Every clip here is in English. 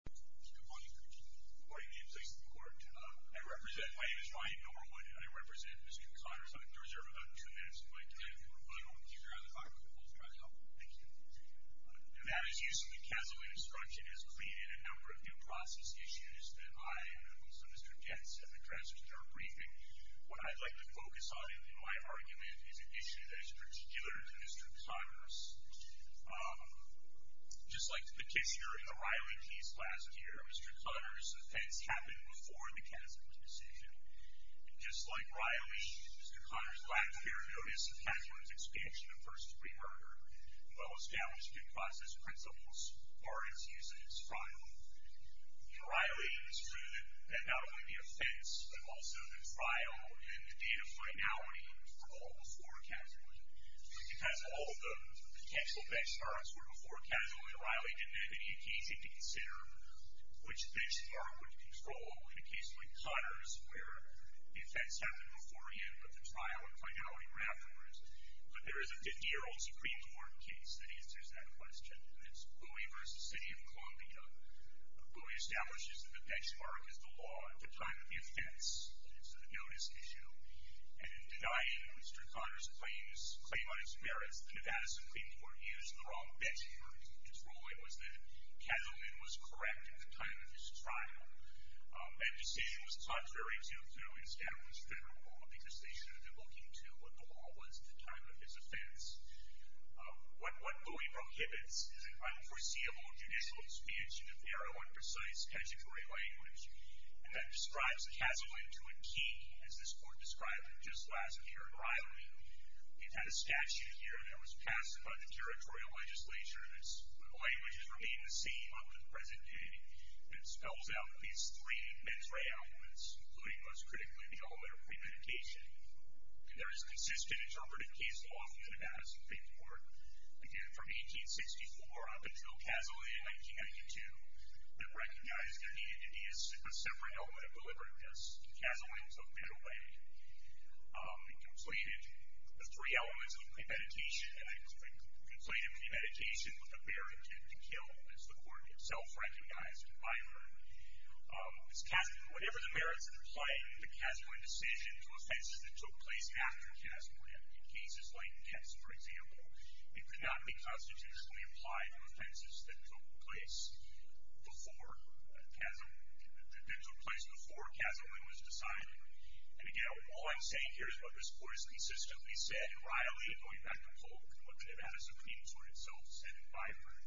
Good morning, Your Honor. Good morning. Name's Isaac Morton. I represent, my name is Brian Norwood. I represent Mr. Connors. I'm going to reserve about two minutes of my time. If you would like to keep your eye on the clock, we'll try to help him. Thank you. Now, as usual, the Council on Instruction has pleaded a number of due process issues that I and also Mr. Jentz have been transferring to our briefing. What I'd like to focus on in my argument is an issue that is particular to Mr. Connors. last year, the case here in the Riley case last year, the case here in the Riley case that was presented here, Mr. Connors' offense happened before the Casulans' decision. Just like Riley, Mr. Connors lacked clear notice of Casulans' expansion of versus breaker, while establishing due process principles as far as using his trial. For Riley, it was true that not only the offense, but also the trial and the data finality were all before Casualie. Because all of the potential benchmarks were before Casulie, Riley didn't have any occasion to consider which benchmark would control a case like Connors' where the offense happened before him, but the trial and finality were afterwards. But there is a 50-year-old Supreme Court case that answers that question. And it's Bowie v. City of Columbia. Bowie establishes that the benchmark is the law at the time of the offense. It's a notice issue. And in denying Mr. Connors' claim on his merits, the Nevada Supreme Court used the wrong benchmark. Its ruling was that Casulie was correct at the time of his trial. That decision was contrary to the new established federal law, because they should have been looking to what the law was at the time of his offense. What Bowie prohibits is an unforeseeable judicial expansion of the arrow on precise statutory language. And that describes Casulie to a T, as this Court described it just last year in Riley. It had a statute here that was passed by the Territorial Legislature that stipulated that language would remain the same up to the present day. And it spells out these three mens rea elements, including, most critically, the element of premeditation. And there is a consistent interpretive case law in the Nevada Supreme Court. Again, from 1864 up until Casulie in 1992, that recognized there needed to be a separate element of deliberateness. And Casulie was of middle-range. It completed the three elements of premeditation. And it completed premeditation with a very strong premeditation. And it did not apply to offenses that Casulie intended to kill, as the Court itself recognized in Byford. Whatever the merits of the play, the Casulie decision to offenses that took place after Casulie, in cases like Pence, for example, it could not be constitutionally applied to offenses that took place before Casulie was decided. And again, all I'm saying here is what this Court has consistently said in Riley and going back to Polk, what the Nevada Supreme Court itself said in Byford.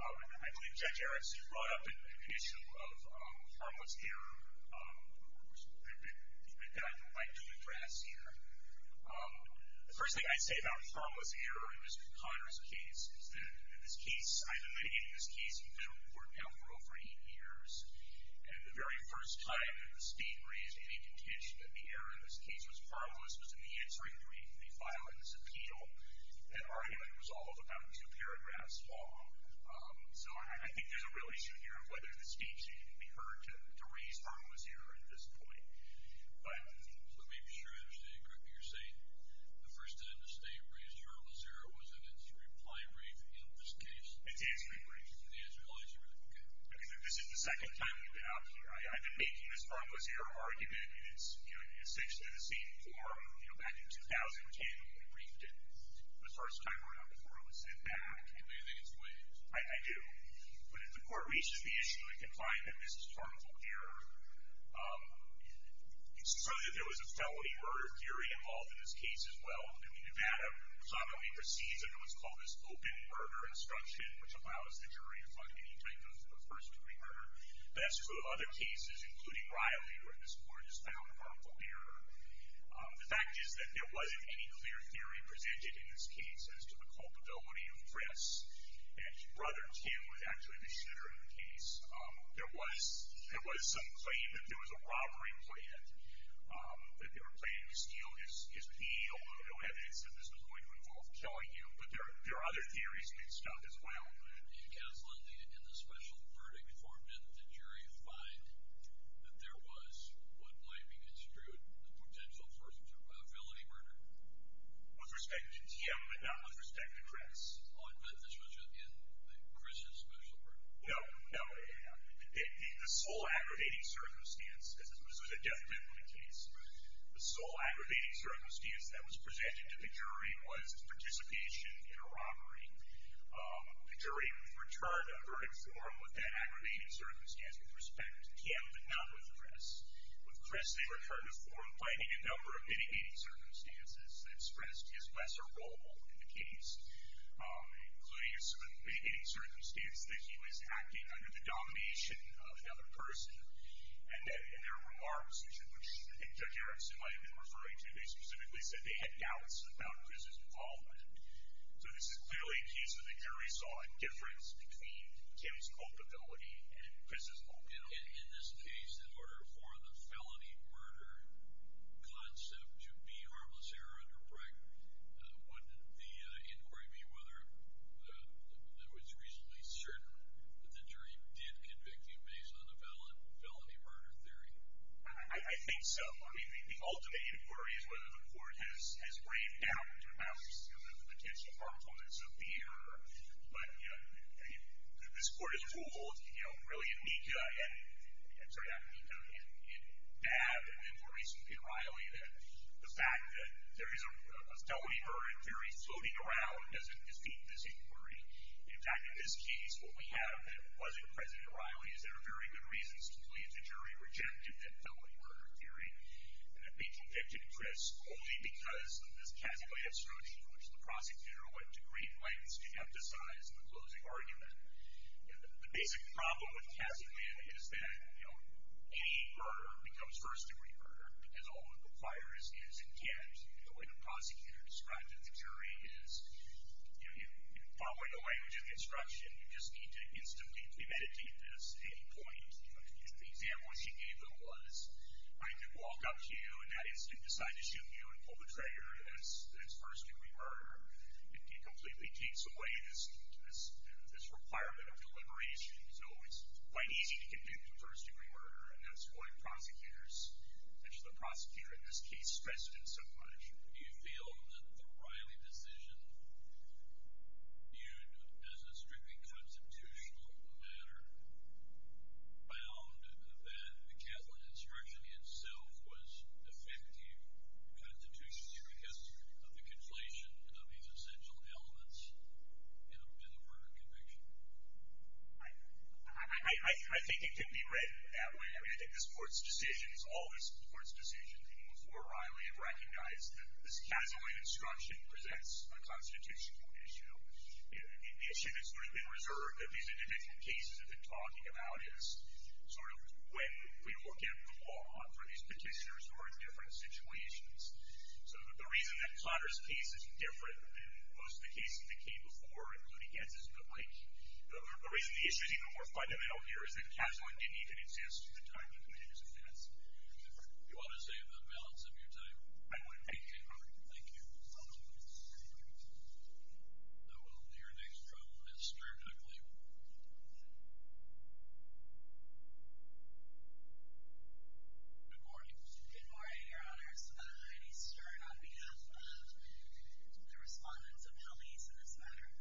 And I believe Judge Erickson brought up the issue of harmless error, which I'd like to address here. The first thing I say about harmless error in Mr. Conner's case is that in this case, I've been looking at this case in federal court now for over eight years. And the very first time that the State raised any contention that the error in this case was harmless was in the answering brief in the filing of this appeal. That argument was all of about two paragraphs. And it's not a swath. So I think there's a real issue here of whether the State should be heard to raise harmless error at this point. But... So to make sure I understand correctly, you're saying the first time the State raised harmless error was in its reply brief in this case? Its answering brief. The answering brief, okay. This is the second time we've been out here. I've been making this harmless error argument. It sticks to the same form. Back in 2010, we briefed it. It was the first time around before it was sent back. Do you have anything to explain? I do. But if the court reaches the issue in confinement, this is harmful error. It's true that there was a felony murder theory involved in this case as well. And we knew that. We saw that we preceded under what's called this open murder instruction, which allows the jury to find any type of first-degree murder. But that's true of other cases, including Riley, where this court has found harmful error. The fact is that there wasn't any clear theory presented in this case as to the culpability of Chris. And Brother Tim was actually the shooter in the case. There was some claim that there was a robbery planned, that they were planning to steal his pee. Although no evidence that this was going to involve killing him. But there are other theories mixed up as well. In the special verdict form, did the jury find that there was, when blaming is true, a potential source of felony murder? With respect to Tim, but not with respect to Chris. Was Chris involved in the special verdict? No. No. The sole aggravating circumstance, and this was a death penalty case, the sole aggravating circumstance that was presented to the jury was participation in a robbery. The jury returned the verdict form with that aggravating circumstance, with respect to Tim but not with Chris. With Chris, they returned a form claiming a number of intimidating circumstances that stressed his lesser role in the case. Including some intimidating circumstance that he was acting under the domination of another person. And there were remarks, which I think Judge Erickson might have been referring to, they specifically said they had doubts about Chris's involvement. So this is clearly a case where the jury saw a difference between Tim's culpability and Chris's culpability. In this case, in order for the felony murder concept to be harmless error under break, wouldn't the inquiry be whether it was reasonably certain that the jury did convict you based on the felony murder theory? I think so. I mean, the ultimate inquiry is whether the court has weighed down to the maximum potential harmfulness of the error. But, you know, this court has ruled, you know, really in Nika, I'm sorry, not Nika, in Babb and then, more recently, in Riley, that the fact that there is a felony murder theory floating around doesn't dispute this inquiry. In fact, in this case, what we have that wasn't present in Riley is there are very good reasons to believe the jury rejected that felony murder theory and that they convicted Chris only because of this casically absurdity to which the prosecutor went to great lengths to emphasize in the closing argument. And the basic problem with casically is that, you know, any murder becomes first degree murder. And all it requires is intent. The way the prosecutor described it to the jury is, you know, following the language of instruction, you just need to instantly premeditate this at any point. The example she gave, though, was I could walk up to you and not instantly decide to shoot you and pull the trigger. That's first degree murder. It completely takes away this requirement of deliberation. So it's quite easy to convict a first degree murder. And that's why prosecutors, especially the prosecutor in this case, stressed it so much. Do you feel that the Riley decision, viewed as a strictly constitutional matter, found that the Catholic instruction itself was defective constitutionally because of the conflation of these essential elements in a murder conviction? I think it could be read that way. I mean, I think this Court's decision is always the Court's decision. Before Riley, it recognized that this Catholic instruction presents a constitutional issue. And the issue that's sort of been reserved of these individual cases I've been talking about is sort of when we look at the law for these petitioners who are in different situations. So the reason that Plotter's case is different than most of the cases that came before, including Gensys, but like the reason the issue is even more fundamental here is that Catholic didn't exist at the time that the case existed. You want to save the balance of your time? I would. Thank you. Thank you. I will move to your next trial, Ms. Stern, I believe. Good morning. Good morning, Your Honors. I'm Heidi Stern on behalf of the respondents of Helmese in this matter.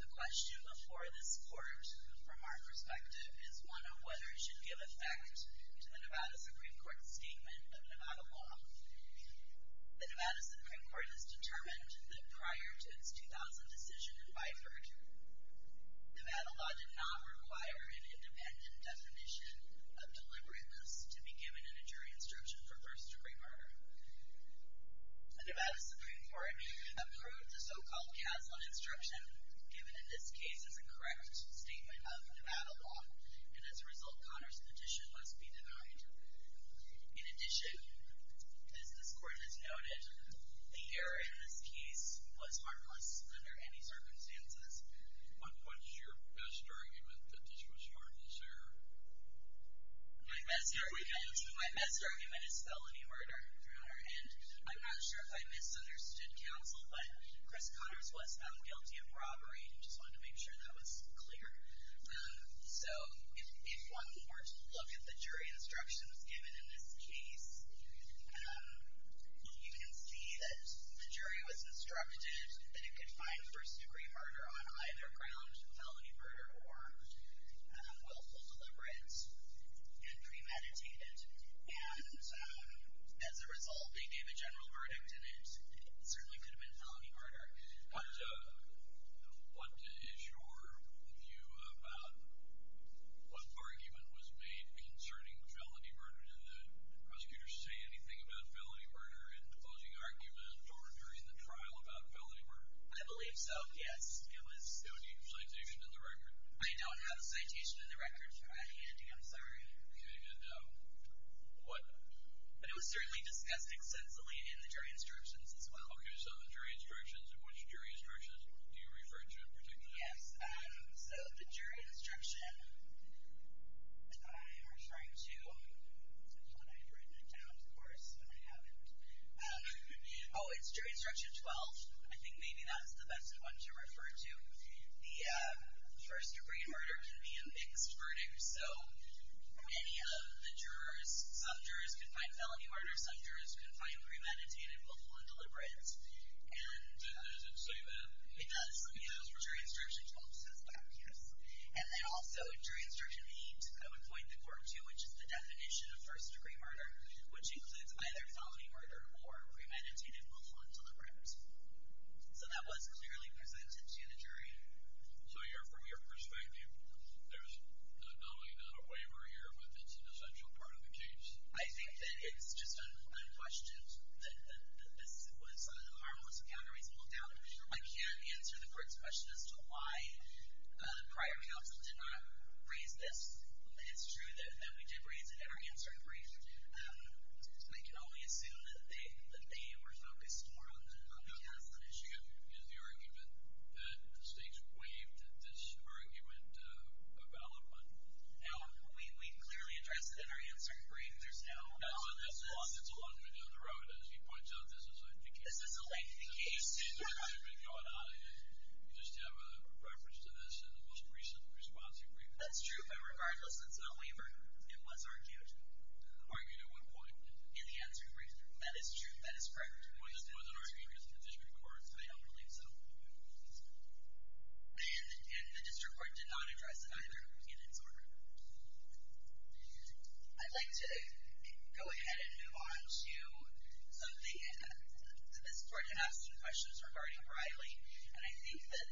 The question before this Court, from our perspective, is one of whether or not the jury should give effect to the Nevada Supreme Court's statement of Nevada law. The Nevada Supreme Court has determined that prior to its 2000 decision in Byford, Nevada law did not require an independent definition of deliberateness to be given in a jury instruction for first-degree murder. The Nevada Supreme Court approved the so-called Kaslan instruction, given in this case as the correct statement of Nevada law, and as a result, Connors petition must be denied. In addition, as this Court has noted, the error in this case was harmless under any circumstances. What is your best argument that this was harmless error? My best argument is felony murder. I'm not sure if I misunderstood counsel, but Chris Connors was found guilty of robbery, and I just wanted to make sure that was clear. So if one were to look at the jury instructions given in this case, you can see that the jury was instructed that it could find first-degree murder on either ground, felony murder or willful deliberate and premeditated. And as a result, they gave a general verdict, and it certainly could have been felony murder. But what is your view about what argument was made concerning felony murder? Did the prosecutors say anything about felony murder in the closing argument or during the trial about felony murder? I believe so, yes. Do you have a citation in the record? I don't have a citation in the record. I can't do it. I'm sorry. And what? It was certainly discussed extensively in the jury instructions as well. Okay. So the jury instructions. And which jury instructions do you refer to in particular? Yes. So the jury instruction I am referring to is the one I've written down, of course, and I haven't. Oh, it's jury instruction 12. I think maybe that's the best one to refer to. The first-degree murder can be a mixed verdict. So any of the jurors, some jurors can find felony murder, some jurors can find premeditated, lawful, and deliberate. And does it say that? It does. Yes, jury instruction 12 says that, yes. And then also, jury instruction 8, I would point the court to, which is the definition of first-degree murder, which includes either felony murder or premeditated, lawful, and deliberate. So that was clearly presented to the jury. So from your perspective, there's not only not a waiver here, but it's an essential part of the case? I think that it's just unquestioned that this was one of the most marvelous categories pulled out. I can't answer the court's question as to why the prior counsel did not raise this. It's true that we did raise it in our answer brief. We can only assume that they were focused more on who has the issue. Is the argument that the stakes were waived? Does your argument evaluate? No. We clearly addressed it in our answer brief. It's a long way down the road. As he points out, this is a lengthy case. This is a lengthy case. You just have a preference to this in the most recent response you briefed. That's true, but regardless, it's a waiver. It was argued. In the argument at what point? In the answer brief. That is true. That is correct. It wasn't argued in the district court. I don't believe so. And the district court did not address it either in its order. I'd like to go ahead and move on to something that this court had asked in questions regarding Riley. And I think that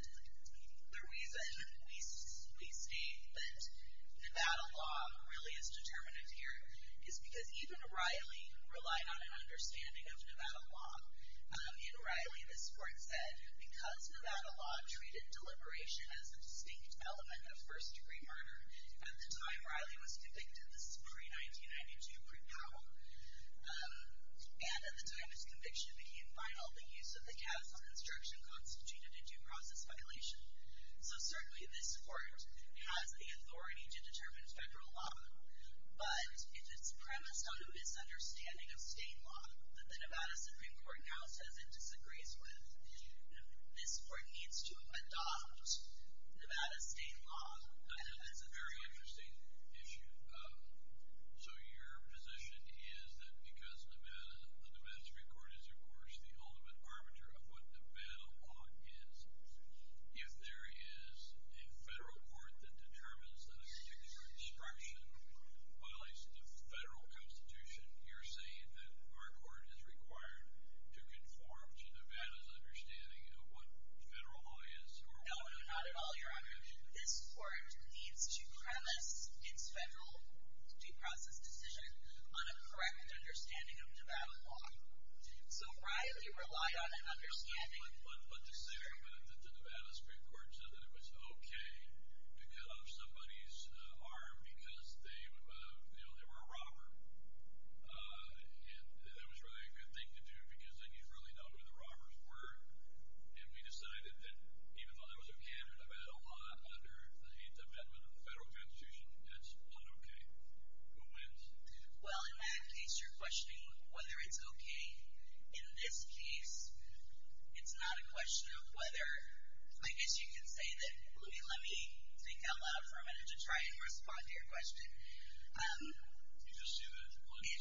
the reason we state that Nevada law really is determinative here is because even Riley relied on an understanding of Nevada law. In Riley, this court said, because Nevada law treated deliberation as a distinct element of first degree murder, at the time Riley was convicted, this is pre-1992, pre-Powell, and at the time his conviction became final, the use of the catastrophic instruction constituted a due process violation. So certainly this court has the authority to determine federal law, but if it's premised on a misunderstanding of state law that the Nevada Supreme Court now says it disagrees with, then this court needs to adopt Nevada state law. That's a very interesting issue. So your position is that because the Nevada Supreme Court is, of course, the ultimate arbiter of what Nevada law is, if there is a federal court that determines that a particular instruction violates a federal constitution, you're saying that our court is required to conform to Nevada's understanding of what federal law is? No, not at all, Your Honor. This court needs to premise its federal due process decision on a correct understanding of Nevada law. So Riley relied on an understanding. But to say that the Nevada Supreme Court said that it was okay to cut off somebody's arm because they were a robber, and that that was really a good thing to do because then you'd really know who the robbers were. And we decided that even though that was a candid event a lot under the Eighth Amendment of the federal constitution, that's not okay. Who wins? Well, in that case, you're questioning whether it's okay. In this case, it's not a question of whether. I guess you can say that. Let me speak out loud for a minute to try and respond to your question. Okay.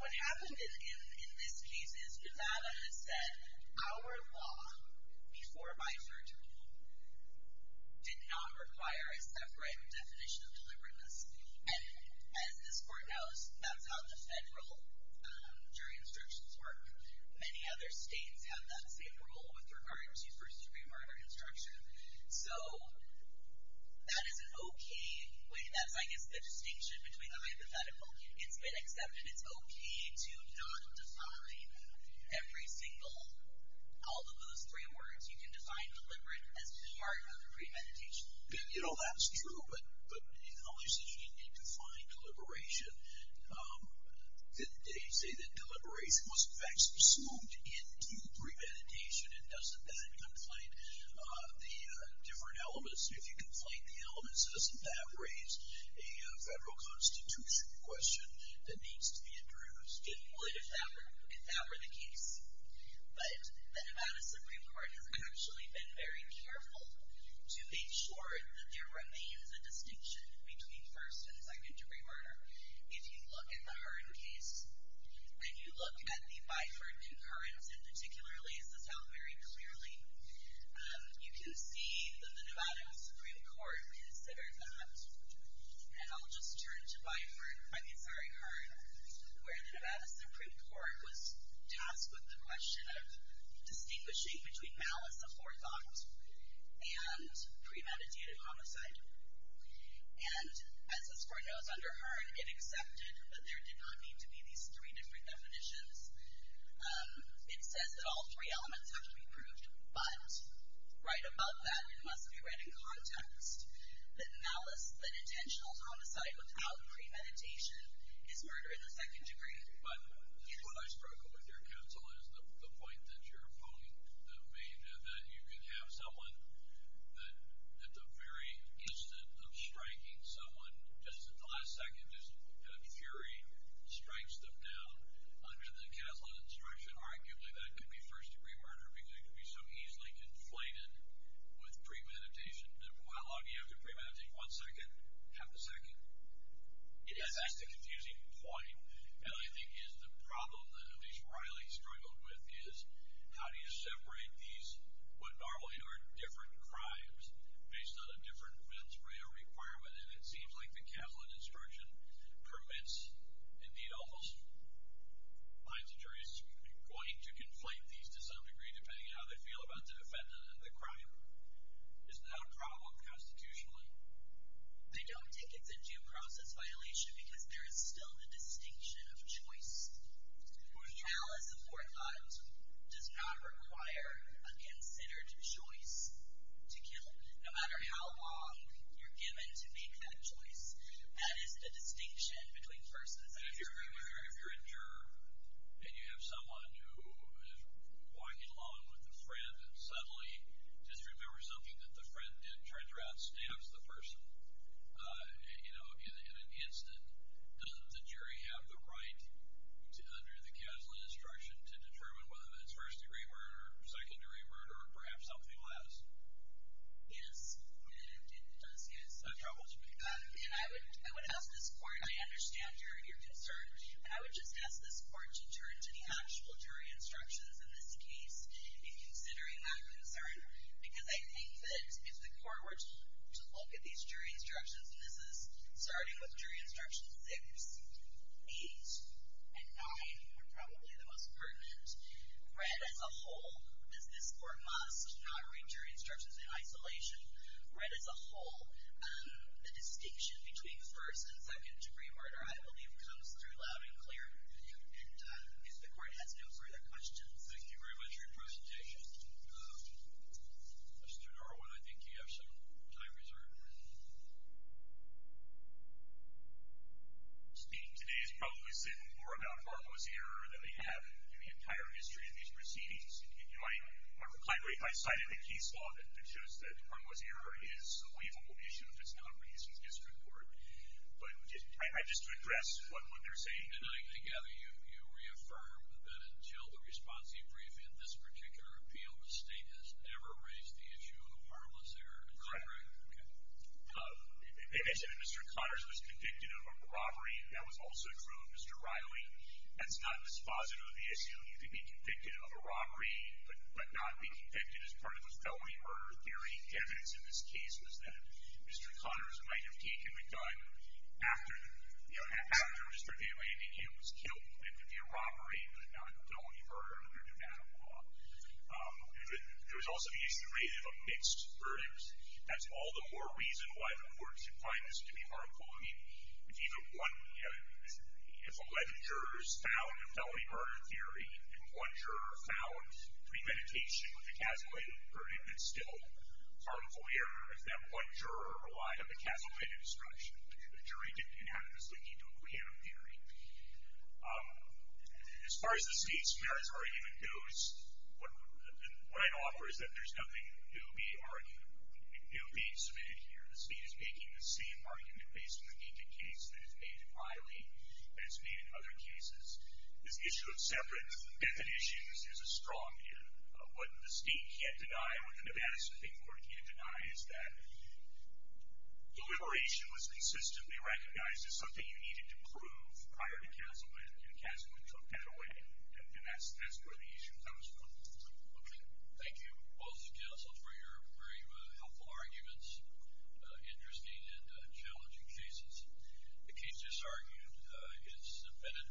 What happened in this case is Nevada has said, our law before my third rule did not require a separate definition of deliberateness. And as this court knows, that's how the federal jury instructions work. Many other states have that same rule with regard to first degree murder instruction. So, that is an okay way, that's I guess the distinction between the hypothetical. It's been accepted, it's okay to not define every single, all of those three words. You can define deliberate as part of premeditation. You know, that's true. But in other states, you need to define deliberation. They say that deliberation was in fact subsumed into premeditation. And doesn't that conflate the different elements? If you conflate the elements, doesn't that raise a federal constitution question that needs to be addressed? It would if that were the case. But the Nevada Supreme Court has actually been very careful to make sure that there remains a distinction between first and second degree murder. If you look at the Hearn case, and you look at the Byford concurrence in particular, it says that very clearly, you can see that the Nevada Supreme Court considered that. And I'll just turn to Byford, I mean, sorry, Hearn, where the Nevada Supreme Court was tasked with the question of distinguishing between malice of forethought and premeditated homicide. And as this Court knows under Hearn, it accepted that there did not need to be these three different definitions. It says that all three elements have to be proved. But right above that, it must be read in context that malice, that intentional homicide without premeditation, is murder in the second degree. But what I struggle with your counsel is the point that you're pointing, I mean, that you can have someone that, at the very instant of striking someone, just at the last second, that fury strikes them down. Under the Kaslan instruction, arguably, that could be first degree murder because it could be so easily inflated with premeditation. How long do you have to premeditate? One second? Half a second? Yes, that's the confusing point. And I think is the problem that at least Riley struggled with is how do you separate these, what normally are different crimes, based on a different mens rea requirement? And it seems like the Kaslan instruction permits, indeed almost, minds the jurists, going to conflate these to some degree, depending on how they feel about the defendant and the crime. Isn't that a problem constitutionally? They don't take it as a due process violation because there is still the distinction of choice. Now, as a forethought, does not require a considered choice to kill. No matter how long you're given to make that choice, that is the distinction between first and third degree murder. But if you're a juror and you have someone who is going along with a friend and suddenly just remembers something that the friend did, turns around, stabs the person, you know, in an instant, doesn't the jury have the right, under the Kaslan instruction, to determine whether it's first degree murder or second degree murder or perhaps something less? Yes, it does, yes. That troubles me. And I would ask this court, I understand your concern, I would just ask this court to turn to the actual jury instructions in this case in considering that concern because I think that if the court were to look at these jury instructions, and this is starting with jury instruction six, eight, and nine are probably the most pertinent, read as a whole, as this court must not read jury instructions in isolation, read as a whole, the distinction between first and second degree murder, I believe, comes through loud and clear. And if the court has no further questions. Thank you very much for your presentation. Mr. Darwin, I think you have some time reserved. Speaking today has probably said more about Farmer's Error than they have in the entire history of these proceedings. I'm glad we've cited the case law that shows that Farmer's Error is a livable issue if it's not raised in district court. But just to address what they're saying. And I gather you reaffirm that until the response you brief in this particular appeal, the state has never raised the issue of the Farmer's Error in the district? They mentioned that Mr. Connors was convicted of a robbery. That was also true of Mr. Riley. That's not dispositive of the issue. He could be convicted of a robbery, but not be convicted as part of the felony murder theory. Evidence in this case was that Mr. Connors might have taken the gun after Mr. Bailey. I mean, he was killed. It could be a robbery, but not a felony murder. There was also the issue raised of a mixed verdict. That's all the more reason why the courts find this to be harmful. I mean, if 11 jurors found a felony murder theory, and one juror found premeditation with a casualty verdict, it's still harmful error if that one juror relied on the casualty description. The jury didn't have to simply do a preemptive theory. As far as the State's merits argument goes, what I offer is that there's nothing new being submitted here. The State is making the same argument based on the Deacon case that it's made in Riley and it's made in other cases. This issue of separate definitions is a strong here. What the State can't deny, what the Nevada State Court can't deny is that deliberation was consistently recognized as something that you needed to prove prior to Castleman, and Castleman took that away. And that's where the issue comes from. Okay. Thank you, both counsels, for your very helpful arguments. Interesting and challenging cases. The case just argued is submitted.